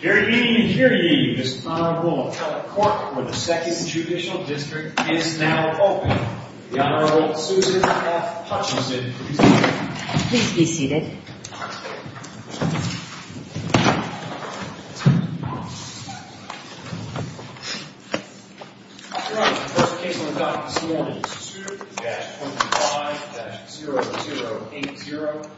Hear ye, hear ye, this Honorable Appellate Court for the 2nd Judicial District is now open. The Honorable Susan F. Hutchinson, please be seated. Please be seated. Your Honor, the first case on the docket this morning is 2-25-0080,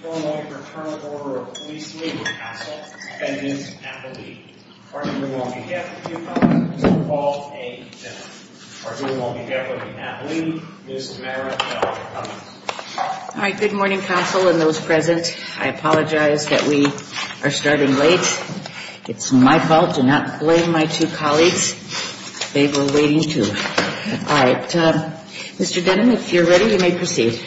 for the Illinois Fraternal Order of Police Labor Council, defendant Appellee. Our hearing will be on behalf of the two colleagues, Mr. Paul A. Denham. Our hearing will be on behalf of the Appellee, Ms. Mara L. Cummings. All right, good morning, Council and those present. I apologize that we are starting late. It's my fault to not blame my two colleagues. They were waiting, too. All right, Mr. Denham, if you're ready, you may proceed.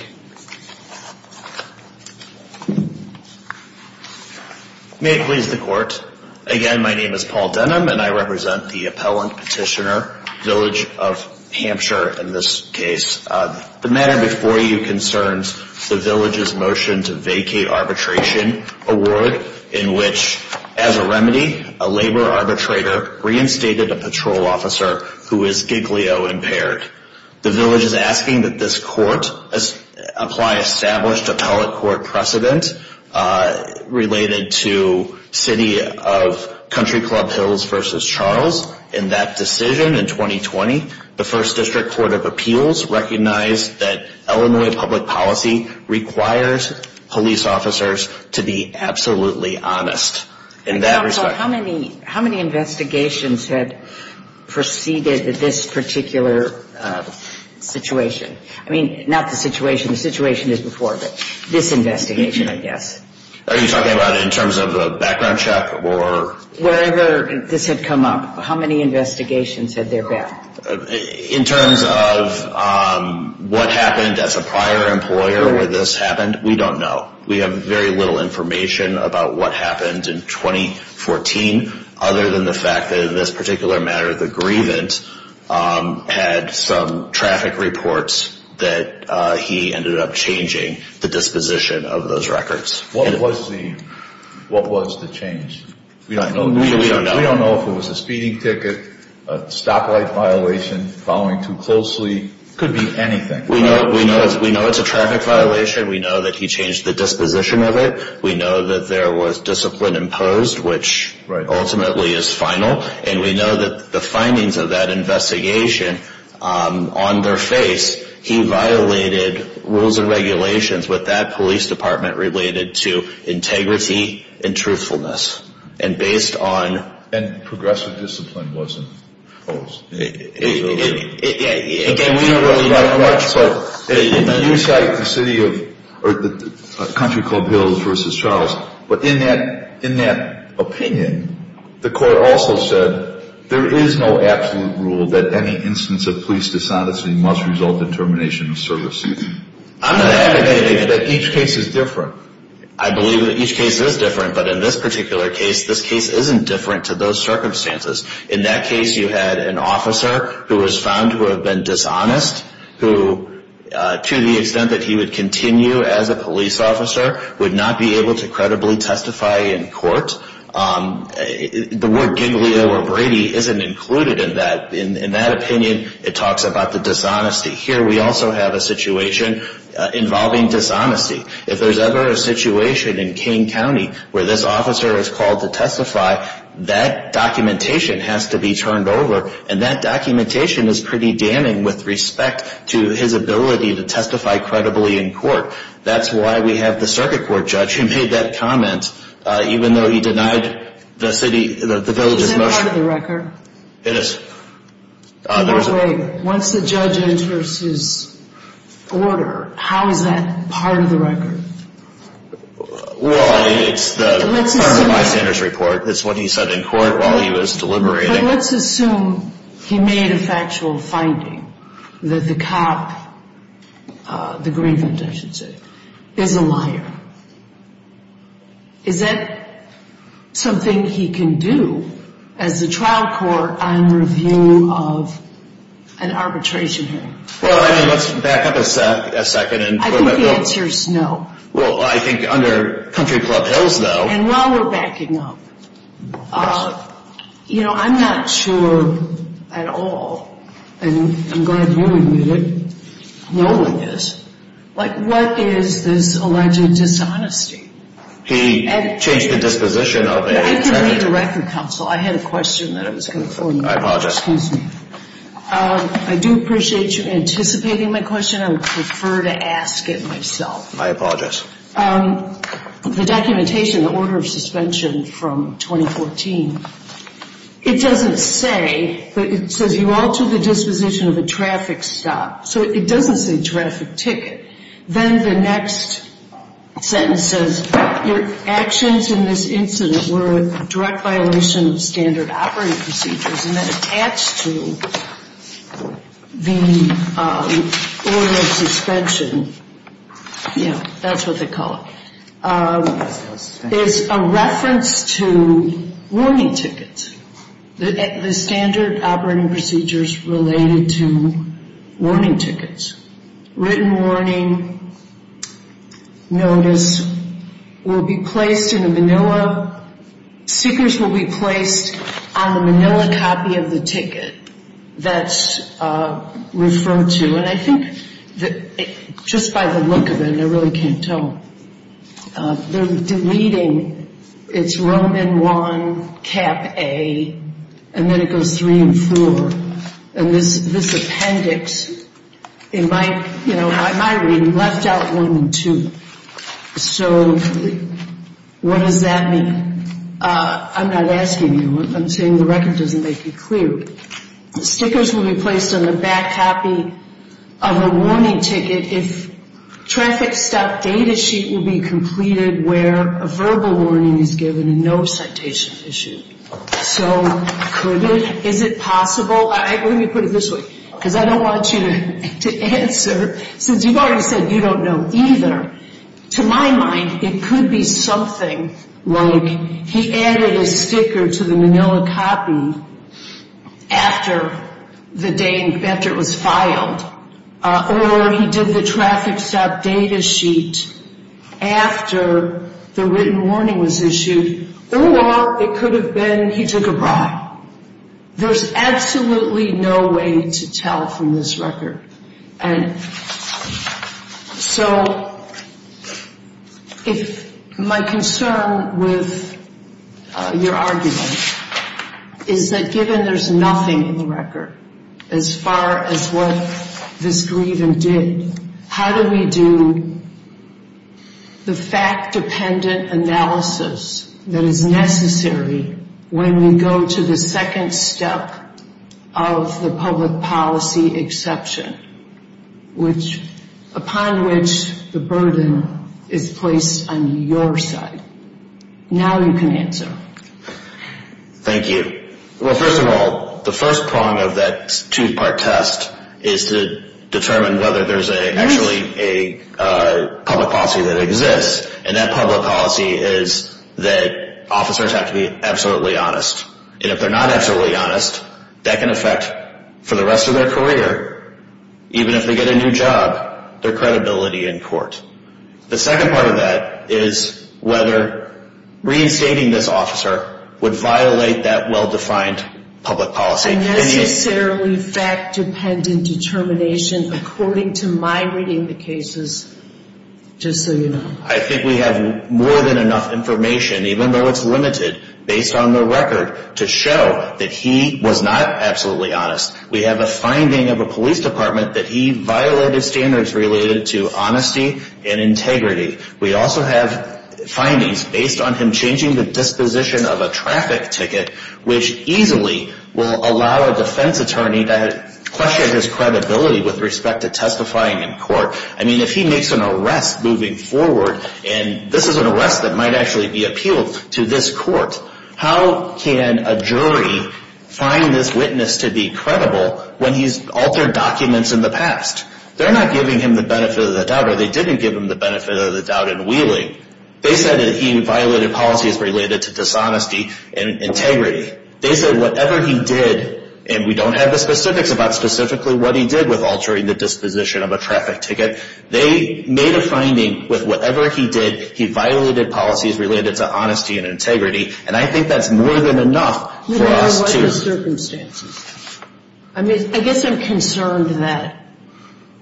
May it please the Court. Again, my name is Paul Denham, and I represent the appellant petitioner, Village of Hampshire, in this case. The matter before you concerns the Village's motion to vacate arbitration award, in which, as a remedy, a labor arbitrator reinstated a patrol officer who is giglio-impaired. The Village is asking that this court apply established appellate court precedent related to City of Country Club Hills v. Charles. In that decision in 2020, the First District Court of Appeals recognized that Illinois public policy requires police officers to be absolutely honest in that respect. How many investigations had preceded this particular situation? I mean, not the situation the situation is before, but this investigation, I guess. Are you talking about in terms of a background check or? Wherever this had come up, how many investigations had there been? In terms of what happened as a prior employer where this happened, we don't know. We have very little information about what happened in 2014, other than the fact that in this particular matter, the grievance had some traffic reports that he ended up changing the disposition of those records. What was the change? We don't know. We don't know if it was a speeding ticket, a stoplight violation, following too closely. It could be anything. We know it's a traffic violation. We know that he changed the disposition of it. We know that there was discipline imposed, which ultimately is final. And we know that the findings of that investigation, on their face, he violated rules and regulations with that police department related to integrity and truthfulness. And based on. And progressive discipline wasn't imposed. Again, we don't really know how much, but. You cite the city of, or the country called Hills versus Charles. But in that opinion, the court also said, there is no absolute rule that any instance of police dishonesty must result in termination of service. I'm not advocating that each case is different. I believe that each case is different. But in this particular case, this case isn't different to those circumstances. In that case, you had an officer who was found to have been dishonest, who, to the extent that he would continue as a police officer, would not be able to credibly testify in court. The word Giglio or Brady isn't included in that opinion. It talks about the dishonesty. Here we also have a situation involving dishonesty. If there's ever a situation in Kane County where this officer is called to testify, that documentation has to be turned over. And that documentation is pretty damning with respect to his ability to testify credibly in court. That's why we have the circuit court judge who made that comment, even though he denied the city, the village's motion. Is that part of the record? It is. Once the judge enters his order, how is that part of the record? Well, it's part of the bystander's report. It's what he said in court while he was deliberating. Let's assume he made a factual finding that the cop, the grievant, I should say, is a liar. Is that something he can do as a trial court on review of an arbitration hearing? Well, let's back up a second. I think the answer is no. Well, I think under Country Club Hills, though. And while we're backing up, you know, I'm not sure at all, and I'm glad you admit it, no one is, like what is this alleged dishonesty? He changed the disposition of a attorney. I can read the record, counsel. I had a question that I was going to for you. I apologize. Excuse me. I do appreciate you anticipating my question. I would prefer to ask it myself. I apologize. The documentation, the order of suspension from 2014, it doesn't say, but it says you altered the disposition of a traffic stop. So it doesn't say traffic ticket. Then the next sentence says your actions in this incident were a direct violation of standard operating procedures. And then attached to the order of suspension, you know, that's what they call it, is a reference to warning tickets. The standard operating procedures related to warning tickets. Written warning notice will be placed in a manila. Stickers will be placed on the manila copy of the ticket that's referred to. And I think just by the look of it, and I really can't tell, they're deleting. It's Roman 1, Cap A, and then it goes 3 and 4. And this appendix, in my reading, left out 1 and 2. So what does that mean? I'm not asking you. I'm saying the record doesn't make it clear. Stickers will be placed on the back copy of a warning ticket if traffic stop data sheet will be completed where a verbal warning is given and no citation issued. So could it? Is it possible? Let me put it this way, because I don't want you to answer. Since you've already said you don't know either. To my mind, it could be something like he added a sticker to the manila copy after the day, after it was filed. Or he did the traffic stop data sheet after the written warning was issued. Or it could have been he took a bribe. There's absolutely no way to tell from this record. And so if my concern with your argument is that given there's nothing in the record as far as what this grievance did, how do we do the fact-dependent analysis that is necessary when we go to the second step of the public policy exception, upon which the burden is placed on your side? Now you can answer. Thank you. Well, first of all, the first prong of that two-part test is to determine whether there's actually a public policy that exists. And that public policy is that officers have to be absolutely honest. And if they're not absolutely honest, that can affect, for the rest of their career, even if they get a new job, their credibility in court. The second part of that is whether reinstating this officer would violate that well-defined public policy. A necessarily fact-dependent determination according to my reading of the cases, just so you know. I think we have more than enough information, even though it's limited, based on the record, to show that he was not absolutely honest. We have a finding of a police department that he violated standards related to honesty and integrity. We also have findings based on him changing the disposition of a traffic ticket, which easily will allow a defense attorney to question his credibility with respect to testifying in court. I mean, if he makes an arrest moving forward, and this is an arrest that might actually be appealed to this court, how can a jury find this witness to be credible when he's altered documents in the past? They're not giving him the benefit of the doubt, or they didn't give him the benefit of the doubt in Wheeling. They said that he violated policies related to dishonesty and integrity. They said whatever he did, and we don't have the specifics about specifically what he did with altering the disposition of a traffic ticket. They made a finding with whatever he did, he violated policies related to honesty and integrity, and I think that's more than enough for us to- No matter what the circumstances. I mean, I guess I'm concerned that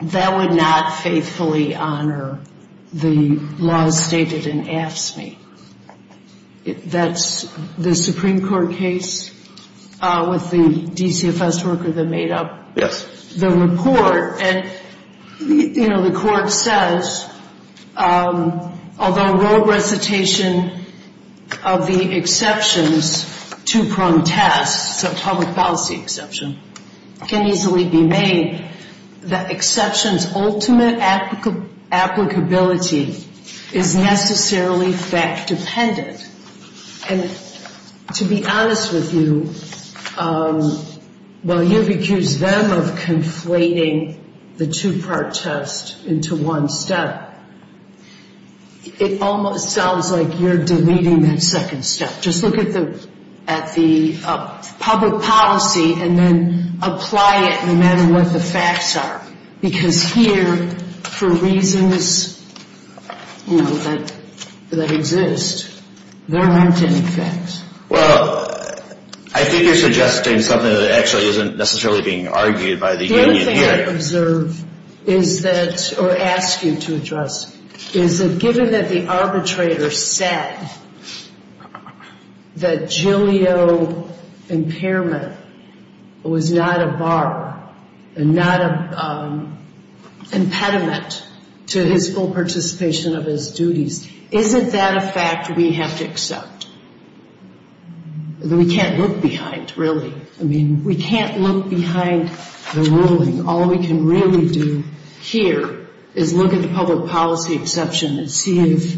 that would not faithfully honor the laws stated in AFSCME. That's the Supreme Court case with the DCFS worker that made up- Yes. The report, and, you know, the court says, although raw recitation of the exceptions to prompt tests, a public policy exception, can easily be made, the exceptions' ultimate applicability is necessarily fact-dependent. And to be honest with you, while you've accused them of conflating the two-part test into one step, it almost sounds like you're deleting that second step. Just look at the public policy and then apply it no matter what the facts are, because here, for reasons, you know, that exist, there aren't any facts. Well, I think you're suggesting something that actually isn't necessarily being argued by the union here. is that, or ask you to address, is that given that the arbitrator said that Jillio impairment was not a bar, and not an impediment to his full participation of his duties, isn't that a fact we have to accept? We can't look behind, really. I mean, we can't look behind the ruling. All we can really do here is look at the public policy exception and see if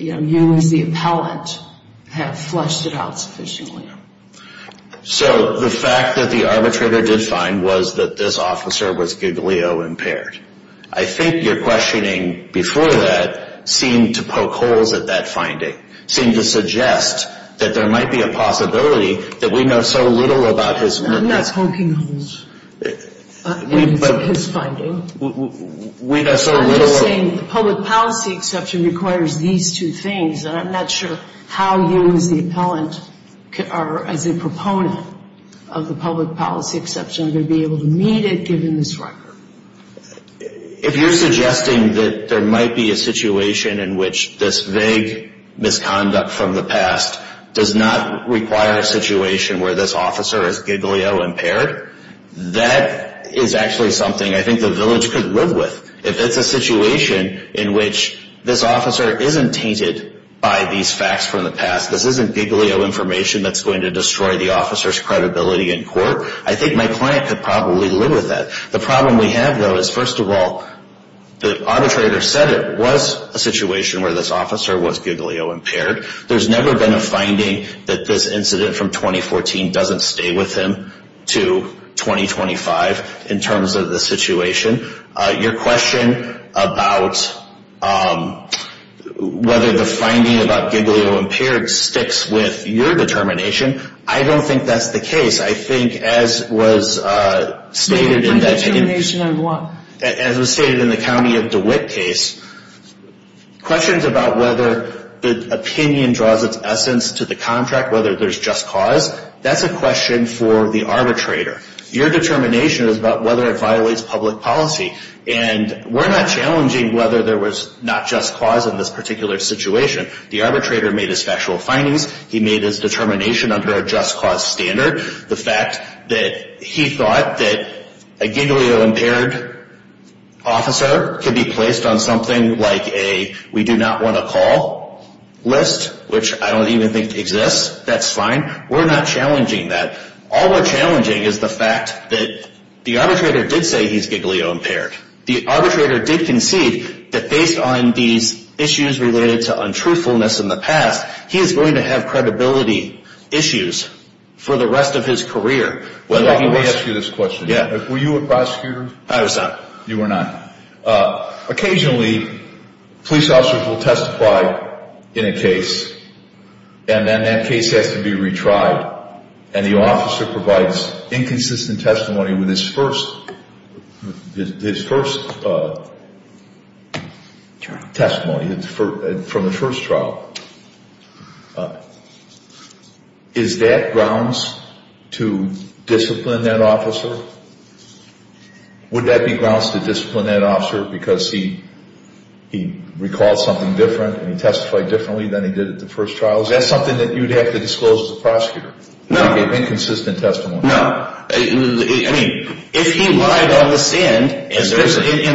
you as the appellant have fleshed it out sufficiently. So the fact that the arbitrator did find was that this officer was Jillio impaired. I think your questioning before that seemed to poke holes at that finding, seemed to suggest that there might be a possibility that we know so little about his work. I'm not poking holes in his finding. We know so little. I'm just saying the public policy exception requires these two things, and I'm not sure how you as the appellant or as a proponent of the public policy exception are going to be able to meet it given this record. If you're suggesting that there might be a situation in which this vague misconduct from the past does not require a situation where this officer is Jillio impaired, that is actually something I think the village could live with. If it's a situation in which this officer isn't tainted by these facts from the past, this isn't Jillio information that's going to destroy the officer's credibility in court, I think my client could probably live with that. The problem we have, though, is first of all, the arbitrator said it was a situation where this officer was Jillio impaired. There's never been a finding that this incident from 2014 doesn't stay with him to 2025 in terms of the situation. Your question about whether the finding about Jillio impaired sticks with your determination, I don't think that's the case. I think as was stated in the county of DeWitt case, questions about whether the opinion draws its essence to the contract, whether there's just cause, that's a question for the arbitrator. Your determination is about whether it violates public policy, and we're not challenging whether there was not just cause in this particular situation. The arbitrator made his factual findings. He made his determination under a just cause standard. The fact that he thought that a Jillio impaired officer could be placed on something like a we-do-not-want-to-call list, which I don't even think exists, that's fine. We're not challenging that. All we're challenging is the fact that the arbitrator did say he's Jillio impaired. The arbitrator did concede that based on these issues related to untruthfulness in the past, he is going to have credibility issues for the rest of his career. Let me ask you this question. Were you a prosecutor? I was not. You were not. Occasionally, police officers will testify in a case, and then that case has to be retried, and the officer provides inconsistent testimony with his first testimony from the first trial. Is that grounds to discipline that officer? Would that be grounds to discipline that officer because he recalled something different and he testified differently than he did at the first trial? Is that something that you would have to disclose to the prosecutor? No. Inconsistent testimony? No. I mean, if he lied on the stand, and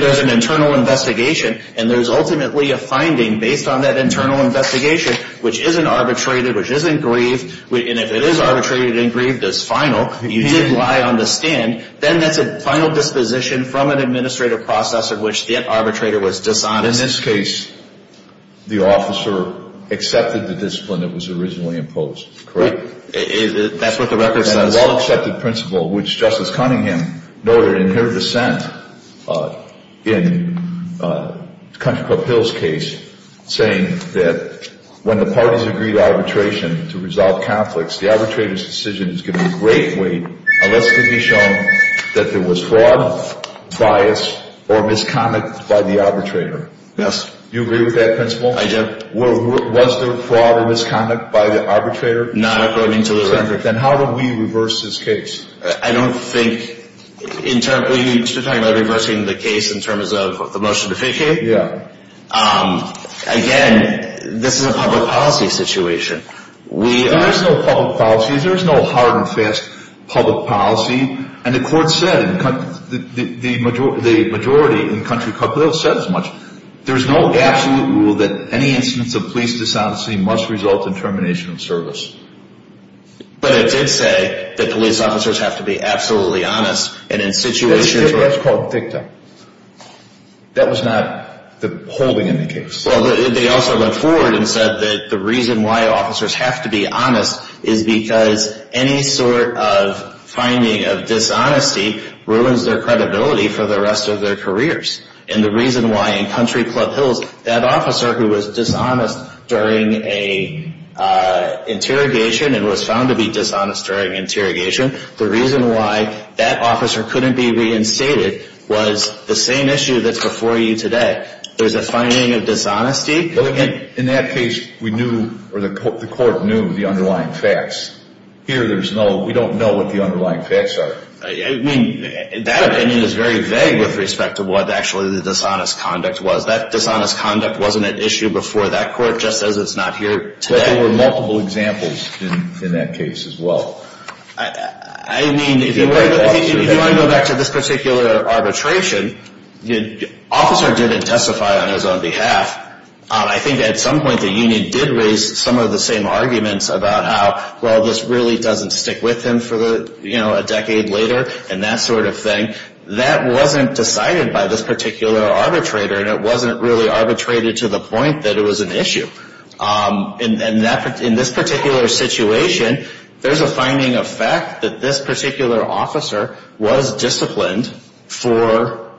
there's an internal investigation, and there's ultimately a finding based on that internal investigation, which isn't arbitrated, which isn't grieved, and if it is arbitrated and grieved as final, you did lie on the stand, then that's a final disposition from an administrative process in which the arbitrator was dishonest. But in this case, the officer accepted the discipline that was originally imposed, correct? That's what the record says. And a well-accepted principle, which Justice Cunningham noted in her dissent in Country Club Hill's case, saying that when the parties agree to arbitration to resolve conflicts, the arbitrator's decision is given great weight unless it can be shown that there was fraud, bias, or misconduct by the arbitrator. Yes. Do you agree with that principle? I do. Was there fraud or misconduct by the arbitrator? Not according to the record. Then how do we reverse this case? I don't think internally, you're talking about reversing the case in terms of the motion to vacate? Yeah. Again, this is a public policy situation. There's no public policy. There's no hard and fast public policy. And the majority in Country Club Hill said as much. There's no absolute rule that any instance of police dishonesty must result in termination of service. But it did say that police officers have to be absolutely honest. That's called dicta. That was not the holding in the case. Well, they also went forward and said that the reason why officers have to be honest is because any sort of finding of dishonesty ruins their credibility for the rest of their careers. And the reason why in Country Club Hills that officer who was dishonest during an interrogation and was found to be dishonest during interrogation, the reason why that officer couldn't be reinstated was the same issue that's before you today. There's a finding of dishonesty. In that case, we knew or the court knew the underlying facts. Here, we don't know what the underlying facts are. I mean, that opinion is very vague with respect to what actually the dishonest conduct was. That dishonest conduct wasn't an issue before that court just as it's not here today. But there were multiple examples in that case as well. I mean, if you want to go back to this particular arbitration, the officer didn't testify on his own behalf. I think at some point the union did raise some of the same arguments about how, well, this really doesn't stick with him for a decade later and that sort of thing. That wasn't decided by this particular arbitrator, and it wasn't really arbitrated to the point that it was an issue. In this particular situation, there's a finding of fact that this particular officer was disciplined for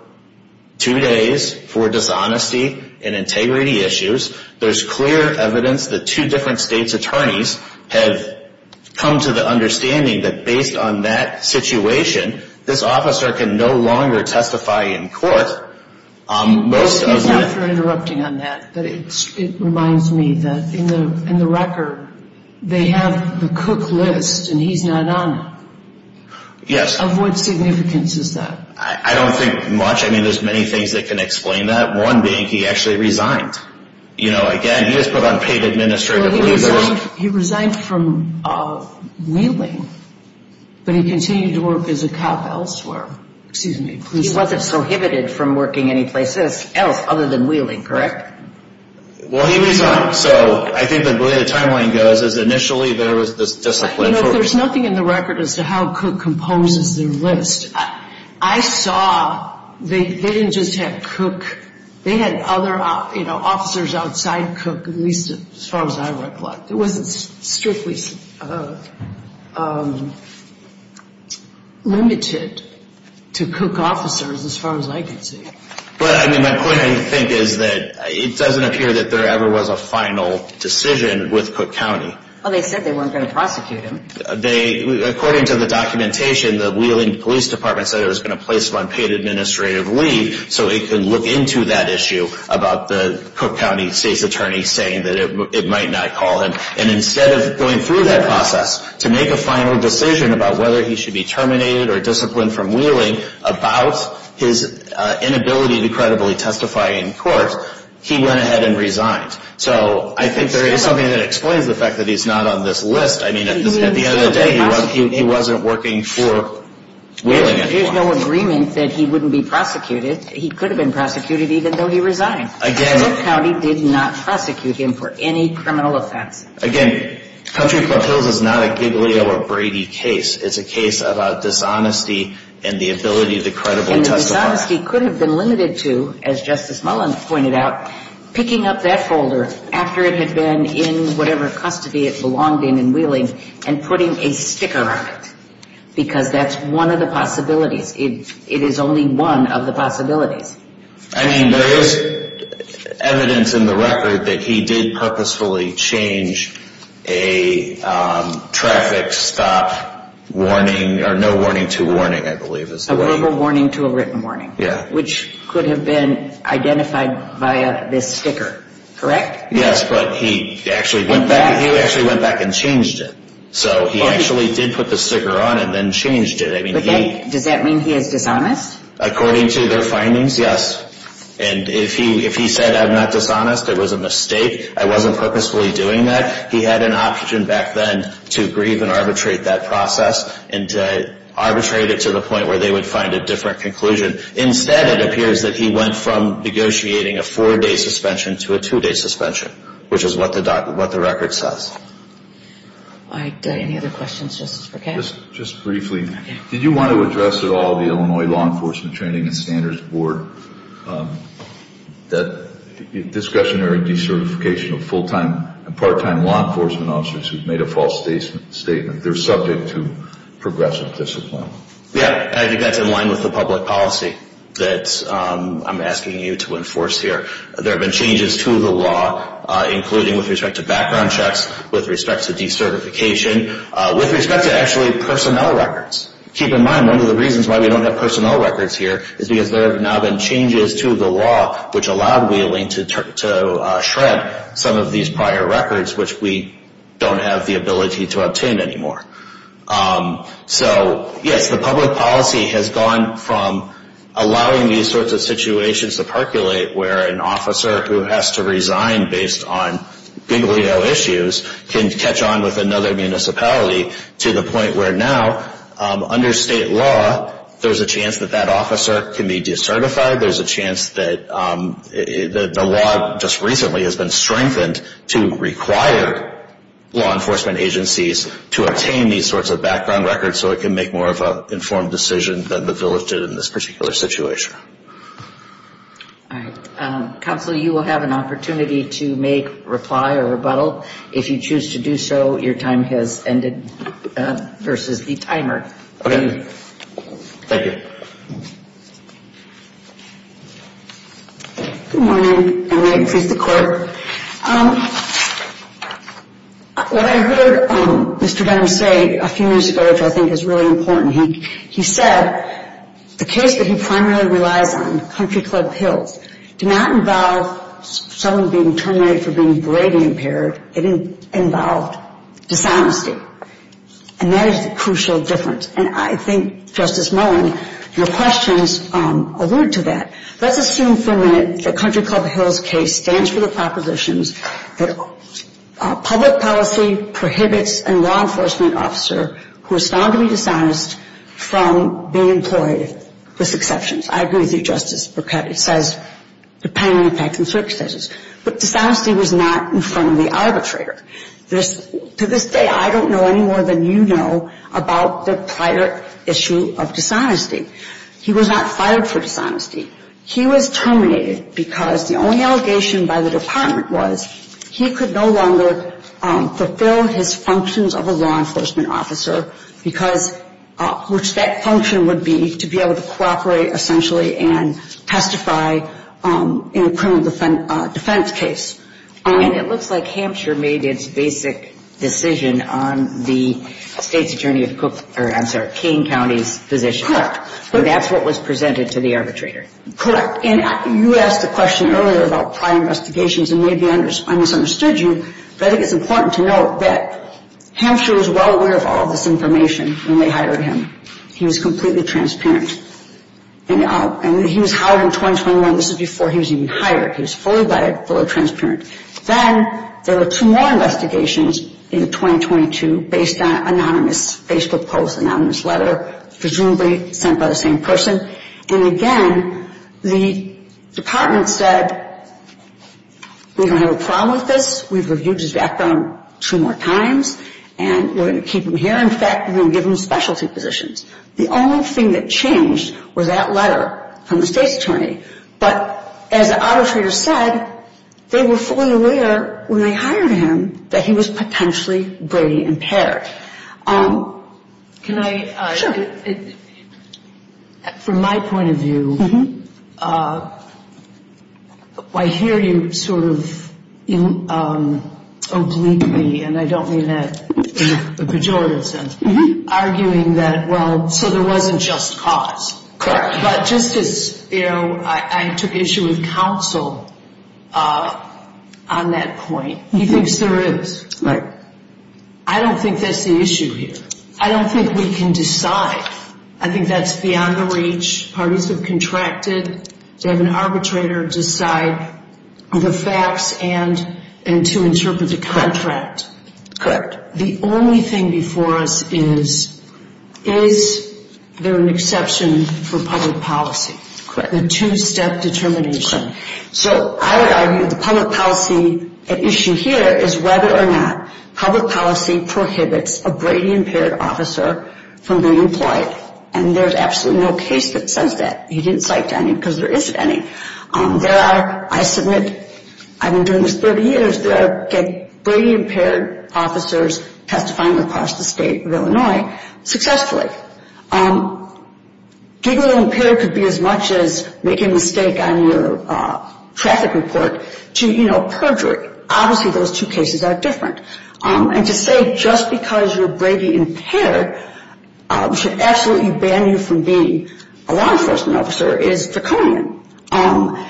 two days for dishonesty and integrity issues. There's clear evidence that two different states' attorneys have come to the understanding that based on that situation, this officer can no longer testify in court. Excuse me for interrupting on that, but it reminds me that in the record, they have the Cook list, and he's not on it. Yes. Of what significance is that? I don't think much. I mean, there's many things that can explain that, one being he actually resigned. You know, again, he was put on paid administrative leave. He resigned from Wheeling, but he continued to work as a cop elsewhere. Excuse me. He wasn't prohibited from working anyplace else other than Wheeling, correct? Well, he resigned, so I think the way the timeline goes is initially there was this discipline. You know, there's nothing in the record as to how Cook composes their list. I saw they didn't just have Cook. They had other officers outside Cook, at least as far as I recollect. It wasn't strictly limited to Cook officers as far as I can see. But, I mean, my point, I think, is that it doesn't appear that there ever was a final decision with Cook County. Well, they said they weren't going to prosecute him. According to the documentation, the Wheeling Police Department said it was going to place him on paid administrative leave so it could look into that issue about the Cook County state's attorney saying that it might not call him. And instead of going through that process to make a final decision about whether he should be terminated or disciplined from Wheeling about his inability to credibly testify in court, he went ahead and resigned. So I think there is something that explains the fact that he's not on this list. I mean, at the end of the day, he wasn't working for Wheeling anymore. But there's no agreement that he wouldn't be prosecuted. He could have been prosecuted even though he resigned. Cook County did not prosecute him for any criminal offense. Again, Country Club Hills is not a Giglio or Brady case. It's a case about dishonesty and the ability to credibly testify. And the dishonesty could have been limited to, as Justice Mullen pointed out, picking up that folder after it had been in whatever custody it belonged in in Wheeling and putting a sticker on it because that's one of the possibilities. It is only one of the possibilities. I mean, there is evidence in the record that he did purposefully change a traffic stop warning or no warning to warning, I believe is the word. A verbal warning to a written warning. Yeah. Which could have been identified via this sticker, correct? Yes, but he actually went back and changed it. So he actually did put the sticker on and then changed it. Does that mean he is dishonest? According to their findings, yes. And if he said, I'm not dishonest, it was a mistake, I wasn't purposefully doing that, he had an option back then to grieve and arbitrate that process and to arbitrate it to the point where they would find a different conclusion. Instead, it appears that he went from negotiating a four-day suspension to a two-day suspension, which is what the record says. All right. Do I have any other questions, Justice Burkett? Just briefly, did you want to address at all the Illinois Law Enforcement Training and Standards Board that discretionary decertification of full-time and part-time law enforcement officers who've made a false statement? They're subject to progressive discipline. Yeah. I think that's in line with the public policy that I'm asking you to enforce here. There have been changes to the law, including with respect to background checks, with respect to decertification, with respect to actually personnel records. Keep in mind, one of the reasons why we don't have personnel records here is because there have now been changes to the law, which allowed Wheeling to shred some of these prior records, which we don't have the ability to obtain anymore. So, yes, the public policy has gone from allowing these sorts of situations to percolate, where an officer who has to resign based on Big Leo issues can catch on with another municipality, to the point where now, under state law, there's a chance that that officer can be decertified. There's a chance that the law just recently has been strengthened to require law enforcement agencies to obtain these sorts of background records so it can make more of an informed decision than the village did in this particular situation. All right. Counsel, you will have an opportunity to make, reply, or rebuttal. If you choose to do so, your time has ended versus the timer. Okay. Thank you. Good morning. Good morning. Please, the Court. What I heard Mr. Benham say a few minutes ago, which I think is really important, he said the case that he primarily relies on, Country Club Hills, did not involve someone being terminated for being Brady-impaired. It involved dishonesty, and that is the crucial difference. And I think, Justice Mullen, your questions allude to that. Let's assume for a minute that Country Club Hills' case stands for the propositions that public policy prohibits a law enforcement officer who is found to be dishonest from being employed with exceptions. I agree with you, Justice Burkett. It says depending on the facts and circumstances. But dishonesty was not in front of the arbitrator. To this day, I don't know any more than you know about the prior issue of dishonesty. He was not fired for dishonesty. He was terminated because the only allegation by the Department was he could no longer fulfill his functions of a law enforcement officer, which that function would be to be able to cooperate essentially and testify in a criminal defense case. And it looks like Hampshire made its basic decision on the State's Attorney of Cook or, I'm sorry, King County's position. And that's what was presented to the arbitrator. Correct. And you asked a question earlier about prior investigations, and maybe I misunderstood you, but I think it's important to note that Hampshire was well aware of all this information when they hired him. He was completely transparent. And he was hired in 2021. This was before he was even hired. He was fully vetted, fully transparent. Then there were two more investigations in 2022 based on anonymous Facebook posts, anonymous letter, presumably sent by the same person. And, again, the Department said, we don't have a problem with this. We've reviewed his background two more times, and we're going to keep him here. In fact, we're going to give him specialty positions. The only thing that changed was that letter from the State's Attorney. But as the arbitrator said, they were fully aware when they hired him that he was potentially brain impaired. Can I? From my point of view, I hear you sort of obliquely, and I don't mean that in a pejorative sense, arguing that, well, so there wasn't just cause. Correct. But just as, you know, I took issue with counsel on that point. He thinks there is. Right. I don't think that's the issue here. I don't think we can decide. I think that's beyond the reach. Parties have contracted to have an arbitrator decide the facts and to interpret the contract. The only thing before us is, is there an exception for public policy? Correct. A two-step determination. Correct. So I would argue the public policy issue here is whether or not public policy prohibits a brain impaired officer from being employed, and there's absolutely no case that says that. He didn't cite any because there isn't any. There are, I submit, I've been doing this 30 years, there are brain impaired officers testifying across the state of Illinois successfully. Being brain impaired could be as much as making a mistake on your traffic report to, you know, perjury. Obviously those two cases are different. And to say just because you're brain impaired should absolutely ban you from being a law enforcement officer is draconian. And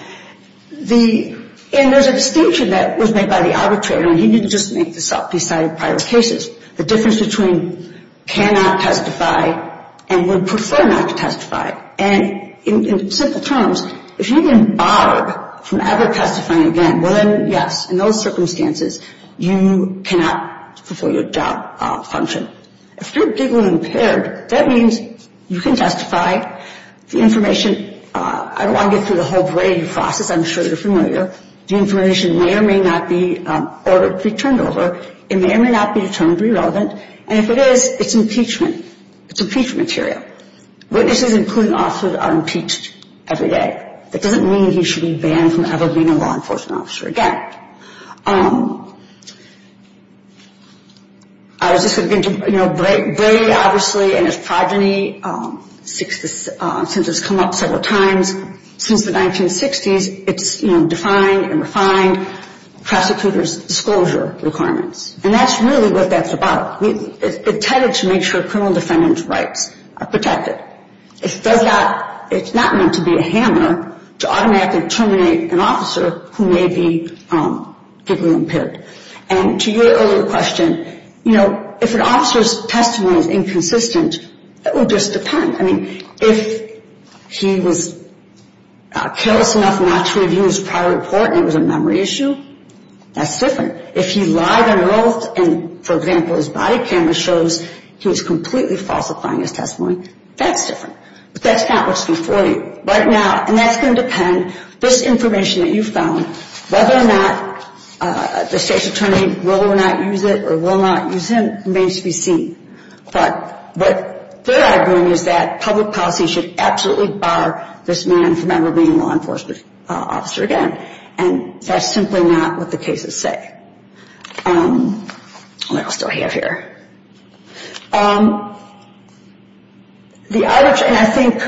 there's a distinction that was made by the arbitrator, and he didn't just make this up. He cited prior cases. The difference between cannot testify and would prefer not to testify. And in simple terms, if you've been barred from ever testifying again, well then, yes, in those circumstances, you cannot perform your job function. If you're giggling impaired, that means you can testify. The information, I don't want to get through the whole brain process. I'm sure you're familiar. The information may or may not be ordered to be turned over. It may or may not be determined to be relevant. And if it is, it's impeachment. It's impeachment material. Witnesses, including officers, are impeached every day. That doesn't mean you should be banned from ever being a law enforcement officer again. Brady, obviously, and his progeny, since it's come up several times, since the 1960s, it's defined and refined prosecutor's disclosure requirements. And that's really what that's about. It's intended to make sure criminal defendants' rights are protected. It's not meant to be a hammer to automatically terminate an officer who may be giggling impaired. And to your earlier question, you know, if an officer's testimony is inconsistent, it will just depend. I mean, if he was careless enough not to review his prior report and it was a memory issue, that's different. If he lied on oath and, for example, his body camera shows he was completely falsifying his testimony, that's different. But that's not what's before you. Right now, and that's going to depend, this information that you found, whether or not the state's attorney will or will not use it or will not use it remains to be seen. But what they're arguing is that public policy should absolutely bar this man from ever being a law enforcement officer again. And that's simply not what the cases say. And I'll still have here. And I think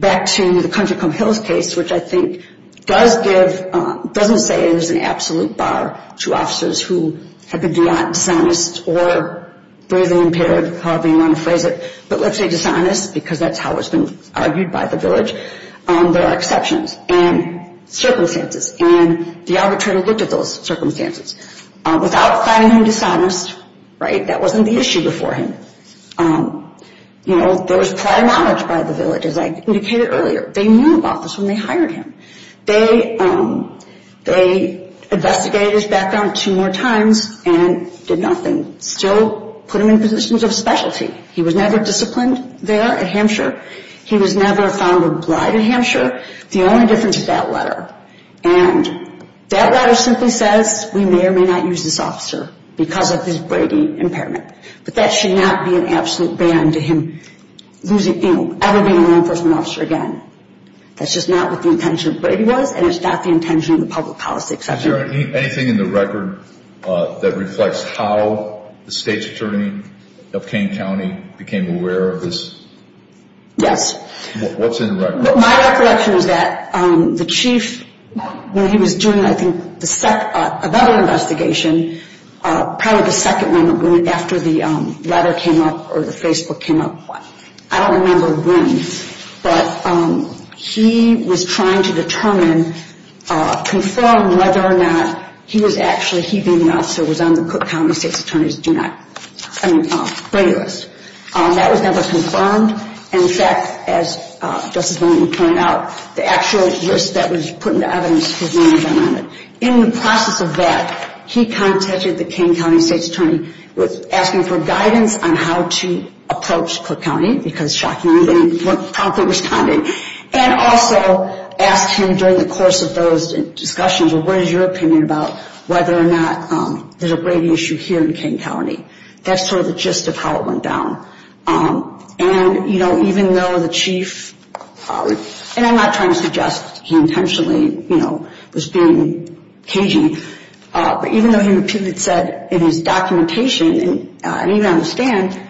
back to the Country Come Hills case, which I think does give, doesn't say it is an absolute bar to officers who have been dishonest or breathing impaired, however you want to phrase it. But let's say dishonest because that's how it's been argued by the village. There are exceptions and circumstances. And the arbitrator looked at those circumstances. Without finding him dishonest, right, that wasn't the issue before him. You know, there was prior knowledge by the village, as I indicated earlier. They knew about this when they hired him. They investigated his background two more times and did nothing. Still put him in positions of specialty. He was never disciplined there at Hampshire. He was never a founder of Blyde at Hampshire. The only difference is that letter. And that letter simply says we may or may not use this officer because of his Brady impairment. But that should not be an absolute ban to him losing, you know, ever being a law enforcement officer again. That's just not what the intention of Brady was, and it's not the intention of the public policy. Is there anything in the record that reflects how the state's attorney of Kane County became aware of this? Yes. What's in the record? My recollection is that the chief, when he was doing, I think, another investigation, probably the second one after the letter came up or the Facebook came up, I don't remember when, but he was trying to determine, confirm whether or not he was actually heeding the officer who was on the Cook County state's attorney's do not, I mean, Brady list. That was never confirmed. And, in fact, as Justice Linden pointed out, the actual list that was put into evidence was not even on it. In the process of that, he contacted the Kane County state's attorney asking for guidance on how to approach Cook County because, shockingly, they weren't promptly responding, and also asked him during the course of those discussions, well, what is your opinion about whether or not there's a Brady issue here in Kane County? That's sort of the gist of how it went down. And, you know, even though the chief, and I'm not trying to suggest he intentionally, you know, was being cagey, but even though he repeatedly said in his documentation, and I don't even understand,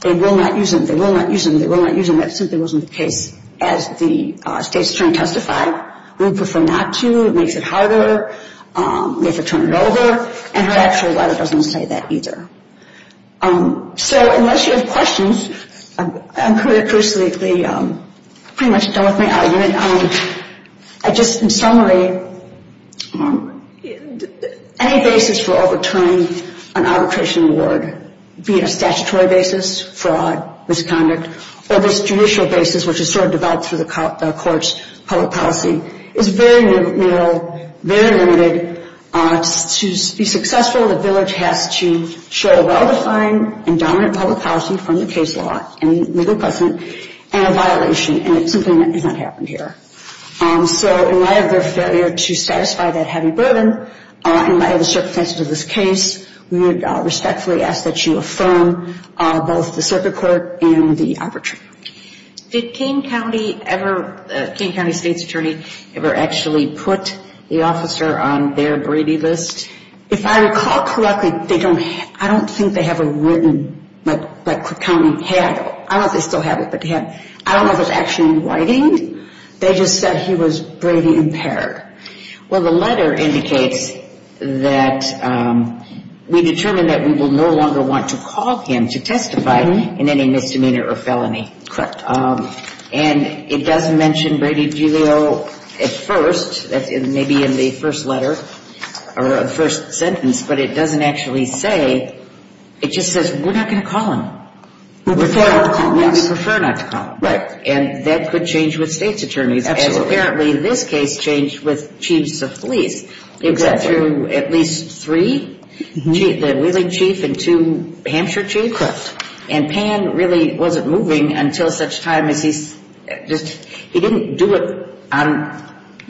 they will not use him, they will not use him, they will not use him, that simply wasn't the case. As the state's attorney testified, we would prefer not to, it makes it harder, we have to turn it over, and her actual letter doesn't say that either. So unless you have questions, I'm pretty much done with my argument. And just in summary, any basis for overturning an arbitration award, be it a statutory basis, fraud, misconduct, or this judicial basis which is sort of developed through the court's public policy, is very narrow, very limited. To be successful, the village has to show a well-defined and dominant public policy from the case law and legal precedent and a violation, and it simply has not happened here. So in light of their failure to satisfy that heavy burden, in light of the circumstances of this case, we would respectfully ask that you affirm both the circuit court and the arbitration. Did Kane County ever, Kane County State's Attorney ever actually put the officer on their Brady list? If I recall correctly, I don't think they have a written, like Kane County had, I don't know if they still have it, but I don't know if it's actually in writing. They just said he was Brady impaired. Well, the letter indicates that we determined that we will no longer want to call him to testify in any misdemeanor or felony. Correct. And it does mention Brady Julio at first, maybe in the first letter or the first sentence, but it doesn't actually say, it just says we're not going to call him. We prefer not to call him. We prefer not to call him. Right. And that could change with State's Attorneys. Absolutely. As apparently this case changed with Chiefs of Police. Exactly. It went through at least three, the Wheeling Chief and two Hampshire Chiefs. Correct. And Pan really wasn't moving until such time as he just, he didn't do it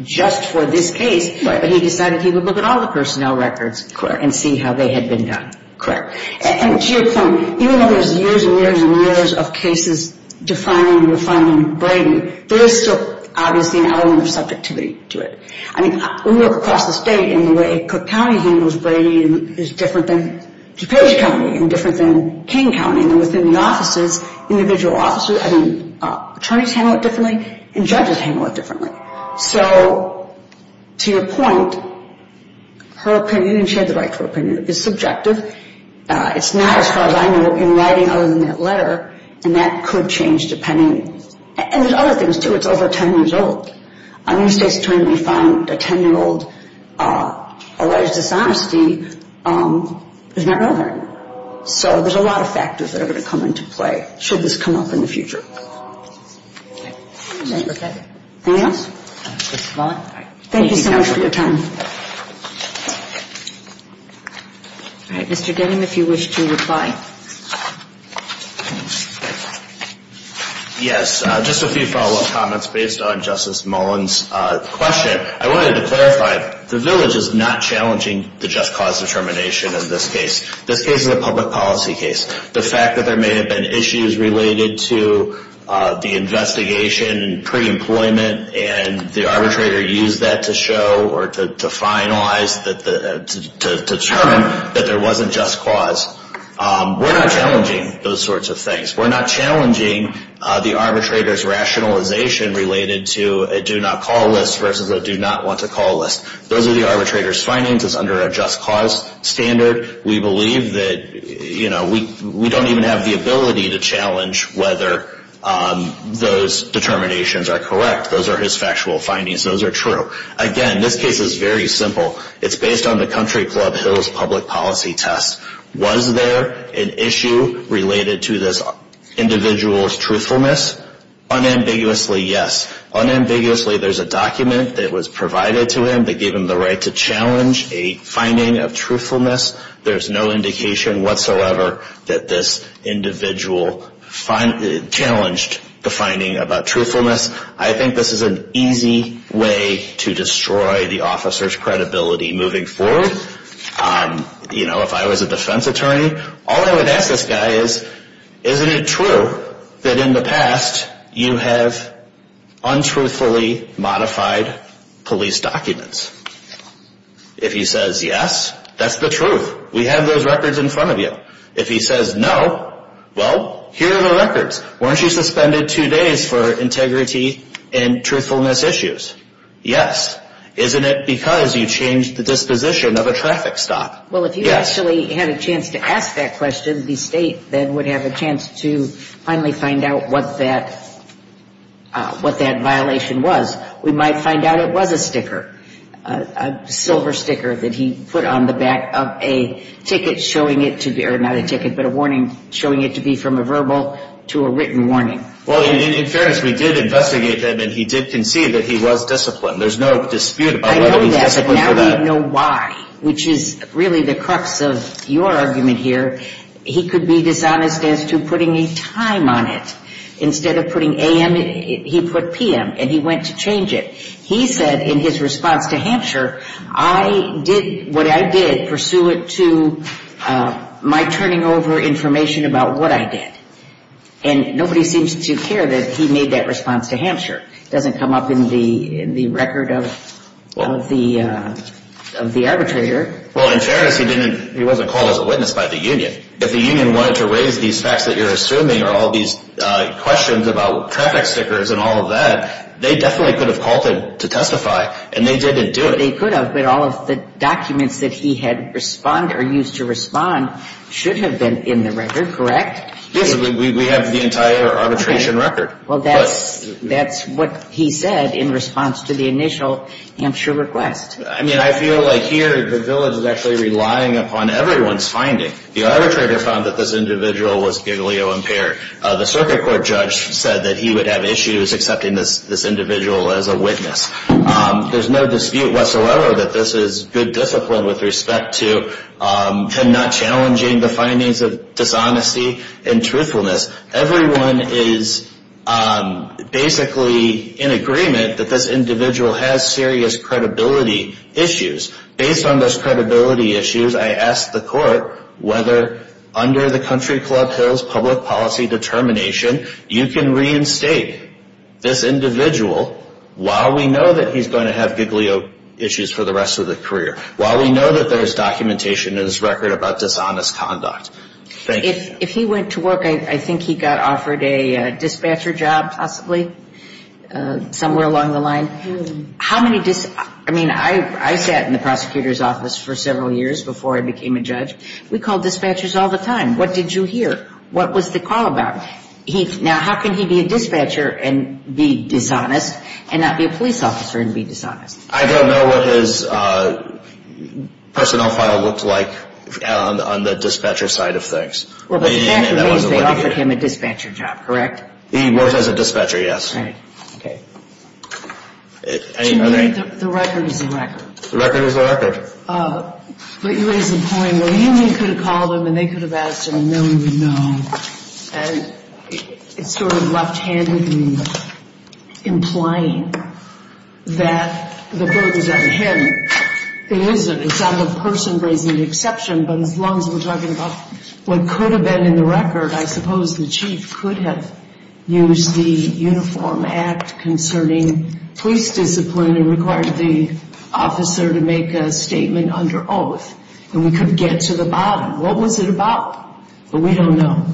just for this case, but he decided he would look at all the personnel records and see how they had been done. Correct. And to your point, even though there's years and years and years of cases defining and refining Brady, there is still obviously an element of subjectivity to it. I mean, we look across the state and the way Cook County handles Brady is different than DuPage County and different than King County. And within the offices, individual offices, I mean, attorneys handle it differently and judges handle it differently. So to your point, her opinion, and she had the right to her opinion, is subjective. It's not as far as I know in writing other than that letter, and that could change depending, and there's other things too. It's over 10 years old. I mean, the state's attorney found a 10-year-old alleged dishonesty is not relevant. So there's a lot of factors that are going to come into play should this come up in the future. Okay. Thank you so much for your time. All right. Mr. Denham, if you wish to reply. Yes, just a few follow-up comments based on Justice Mullen's question. I wanted to clarify, the village is not challenging the just cause determination in this case. This case is a public policy case. The fact that there may have been issues related to the investigation and pre-employment and the arbitrator used that to show or to finalize, to determine that there wasn't just cause. We're not challenging those sorts of things. We're not challenging the arbitrator's rationalization related to a do-not-call list versus a do-not-want-to-call list. Those are the arbitrator's findings. It's under a just cause standard. We believe that we don't even have the ability to challenge whether those determinations are correct. Those are his factual findings. Those are true. Again, this case is very simple. It's based on the Country Club Hills Public Policy Test. Was there an issue related to this individual's truthfulness? Unambiguously, yes. Unambiguously, there's a document that was provided to him that gave him the right to challenge a finding of truthfulness. There's no indication whatsoever that this individual challenged the finding about truthfulness. I think this is an easy way to destroy the officer's credibility moving forward. If I was a defense attorney, all I would ask this guy is, isn't it true that in the past you have untruthfully modified police documents? If he says yes, that's the truth. We have those records in front of you. If he says no, well, here are the records. Weren't you suspended two days for integrity and truthfulness issues? Yes. Isn't it because you changed the disposition of a traffic stop? Well, if you actually had a chance to ask that question, the state then would have a chance to finally find out what that violation was. We might find out it was a sticker, a silver sticker that he put on the back of a ticket showing it to be or not a ticket, but a warning showing it to be from a verbal to a written warning. Well, in fairness, we did investigate him, and he did concede that he was disciplined. There's no dispute about whether he's disciplined or not. I know that, but now we know why, which is really the crux of your argument here. He could be dishonest as to putting a time on it. Instead of putting a.m., he put p.m., and he went to change it. He said in his response to Hampshire, I did what I did pursuant to my turning over information about what I did, and nobody seems to care that he made that response to Hampshire. It doesn't come up in the record of the arbitrator. Well, in fairness, he wasn't called as a witness by the union. If the union wanted to raise these facts that you're assuming or all these questions about traffic stickers and all of that, they definitely could have called him to testify, and they didn't do it. They could have, but all of the documents that he had used to respond should have been in the record, correct? Yes, we have the entire arbitration record. Well, that's what he said in response to the initial Hampshire request. I mean, I feel like here the village is actually relying upon everyone's finding. The arbitrator found that this individual was galeo-impaired. The circuit court judge said that he would have issues accepting this individual as a witness. There's no dispute whatsoever that this is good discipline with respect to him not challenging the findings of dishonesty and truthfulness. Everyone is basically in agreement that this individual has serious credibility issues. Based on those credibility issues, I asked the court whether under the Country Club Hills public policy determination, you can reinstate this individual while we know that he's going to have galeo issues for the rest of the career, while we know that there's documentation in his record about dishonest conduct. If he went to work, I think he got offered a dispatcher job, possibly, somewhere along the line. I mean, I sat in the prosecutor's office for several years before I became a judge. We called dispatchers all the time. What did you hear? What was the call about? Now, how can he be a dispatcher and be dishonest and not be a police officer and be dishonest? I don't know what his personnel file looked like on the dispatcher side of things. Well, but the fact of the matter is they offered him a dispatcher job, correct? He worked as a dispatcher, yes. Right. The record is the record. The record is the record. But you raise the point where he could have called them and they could have asked him and then we would know. And it's sort of left-handed in implying that the burden's on him. It isn't. It's on the person raising the exception. But as long as we're talking about what could have been in the record, I suppose the chief could have used the Uniform Act concerning police discipline and required the officer to make a statement under oath and we could get to the bottom. What was it about? But we don't know.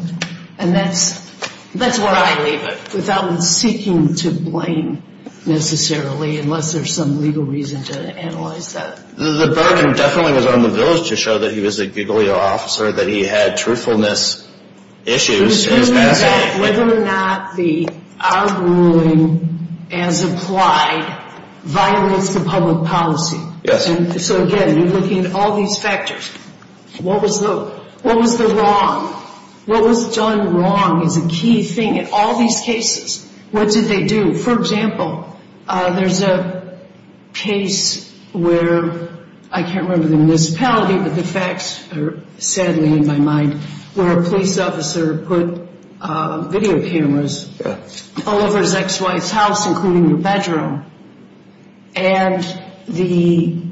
And that's where I leave it. Without seeking to blame necessarily unless there's some legal reason to analyze that. The burden definitely was on the village to show that he was a good officer, that he had truthfulness issues. It was whether or not the odd ruling as applied violates the public policy. Yes. So, again, you're looking at all these factors. What was the wrong? What was done wrong is a key thing in all these cases. What did they do? For example, there's a case where I can't remember the municipality, but the facts are sadly in my mind, where a police officer put video cameras all over his ex-wife's house, including the bedroom. And the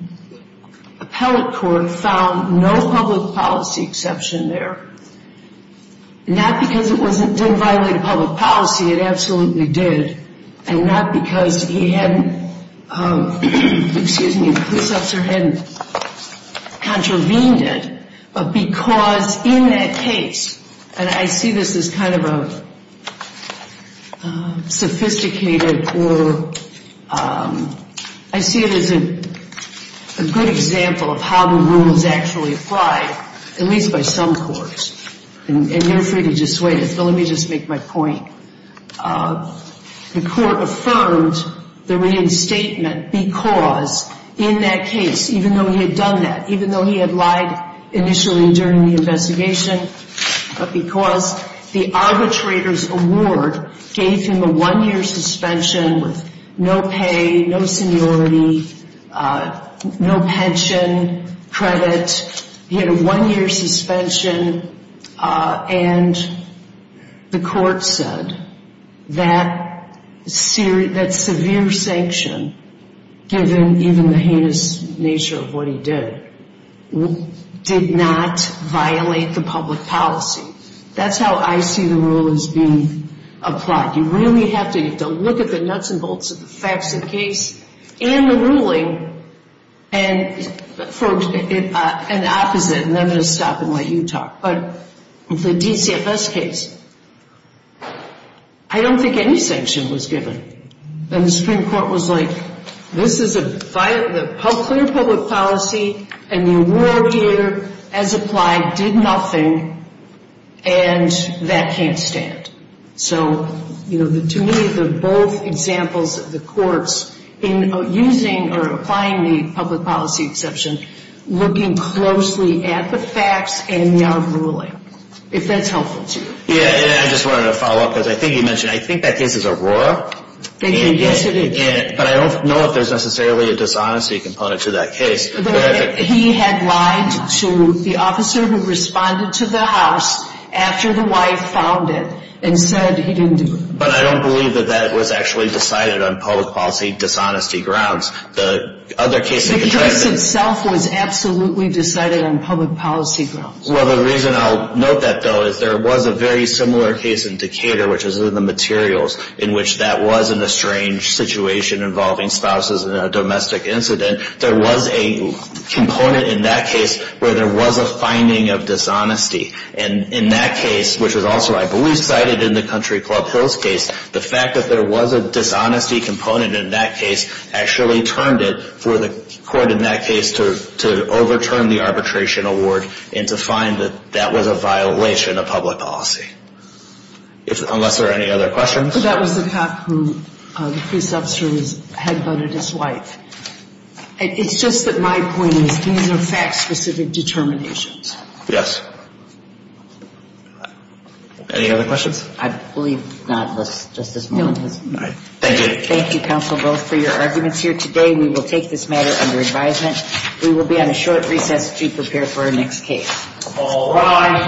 appellate court found no public policy exception there. Not because it didn't violate public policy, it absolutely did, and not because he hadn't, excuse me, the police officer hadn't contravened it, but because in that case, and I see this as kind of a sophisticated or, I see it as a good example of how the rules actually apply, at least by some courts. And you're free to dissuade us, but let me just make my point. The court affirmed the reinstatement because in that case, even though he had done that, even though he had lied initially during the investigation, but because the arbitrator's award gave him a one-year suspension with no pay, no seniority, no pension, credit. He had a one-year suspension. And the court said that severe sanction, given even the heinous nature of what he did, did not violate the public policy. That's how I see the rule as being applied. You really have to look at the nuts and bolts of the facts of the case and the ruling and the opposite, and then I'm going to stop and let you talk. But the DCFS case, I don't think any sanction was given. And the Supreme Court was like, this is a violation of clear public policy, and the award here, as applied, did nothing, and that can't stand. So, you know, to me, they're both examples of the courts in using or applying the public policy exception, looking closely at the facts and the ruling, if that's helpful to you. Yeah, and I just wanted to follow up, because I think you mentioned, I think that case is Aurora. But I don't know if there's necessarily a dishonesty component to that case. He had lied to the officer who responded to the house after the wife found it and said he didn't do it. But I don't believe that that was actually decided on public policy dishonesty grounds. The case itself was absolutely decided on public policy grounds. Well, the reason I'll note that, though, is there was a very similar case in Decatur, which is in the materials, in which that was in a strange situation involving spouses in a domestic incident. There was a component in that case where there was a finding of dishonesty. And in that case, which was also, I believe, cited in the Country Club Hills case, the fact that there was a dishonesty component in that case actually turned it for the court in that case to overturn the arbitration award and to find that that was a violation of public policy, unless there are any other questions. But that was the cop who, the pre-sub series, had voted his wife. It's just that my point is these are fact-specific determinations. Yes. Any other questions? I believe not, Justice Malone. Thank you. Thank you, counsel, both, for your arguments here today. We will take this matter under advisement. We will be on a short recess to prepare for our next case. All rise.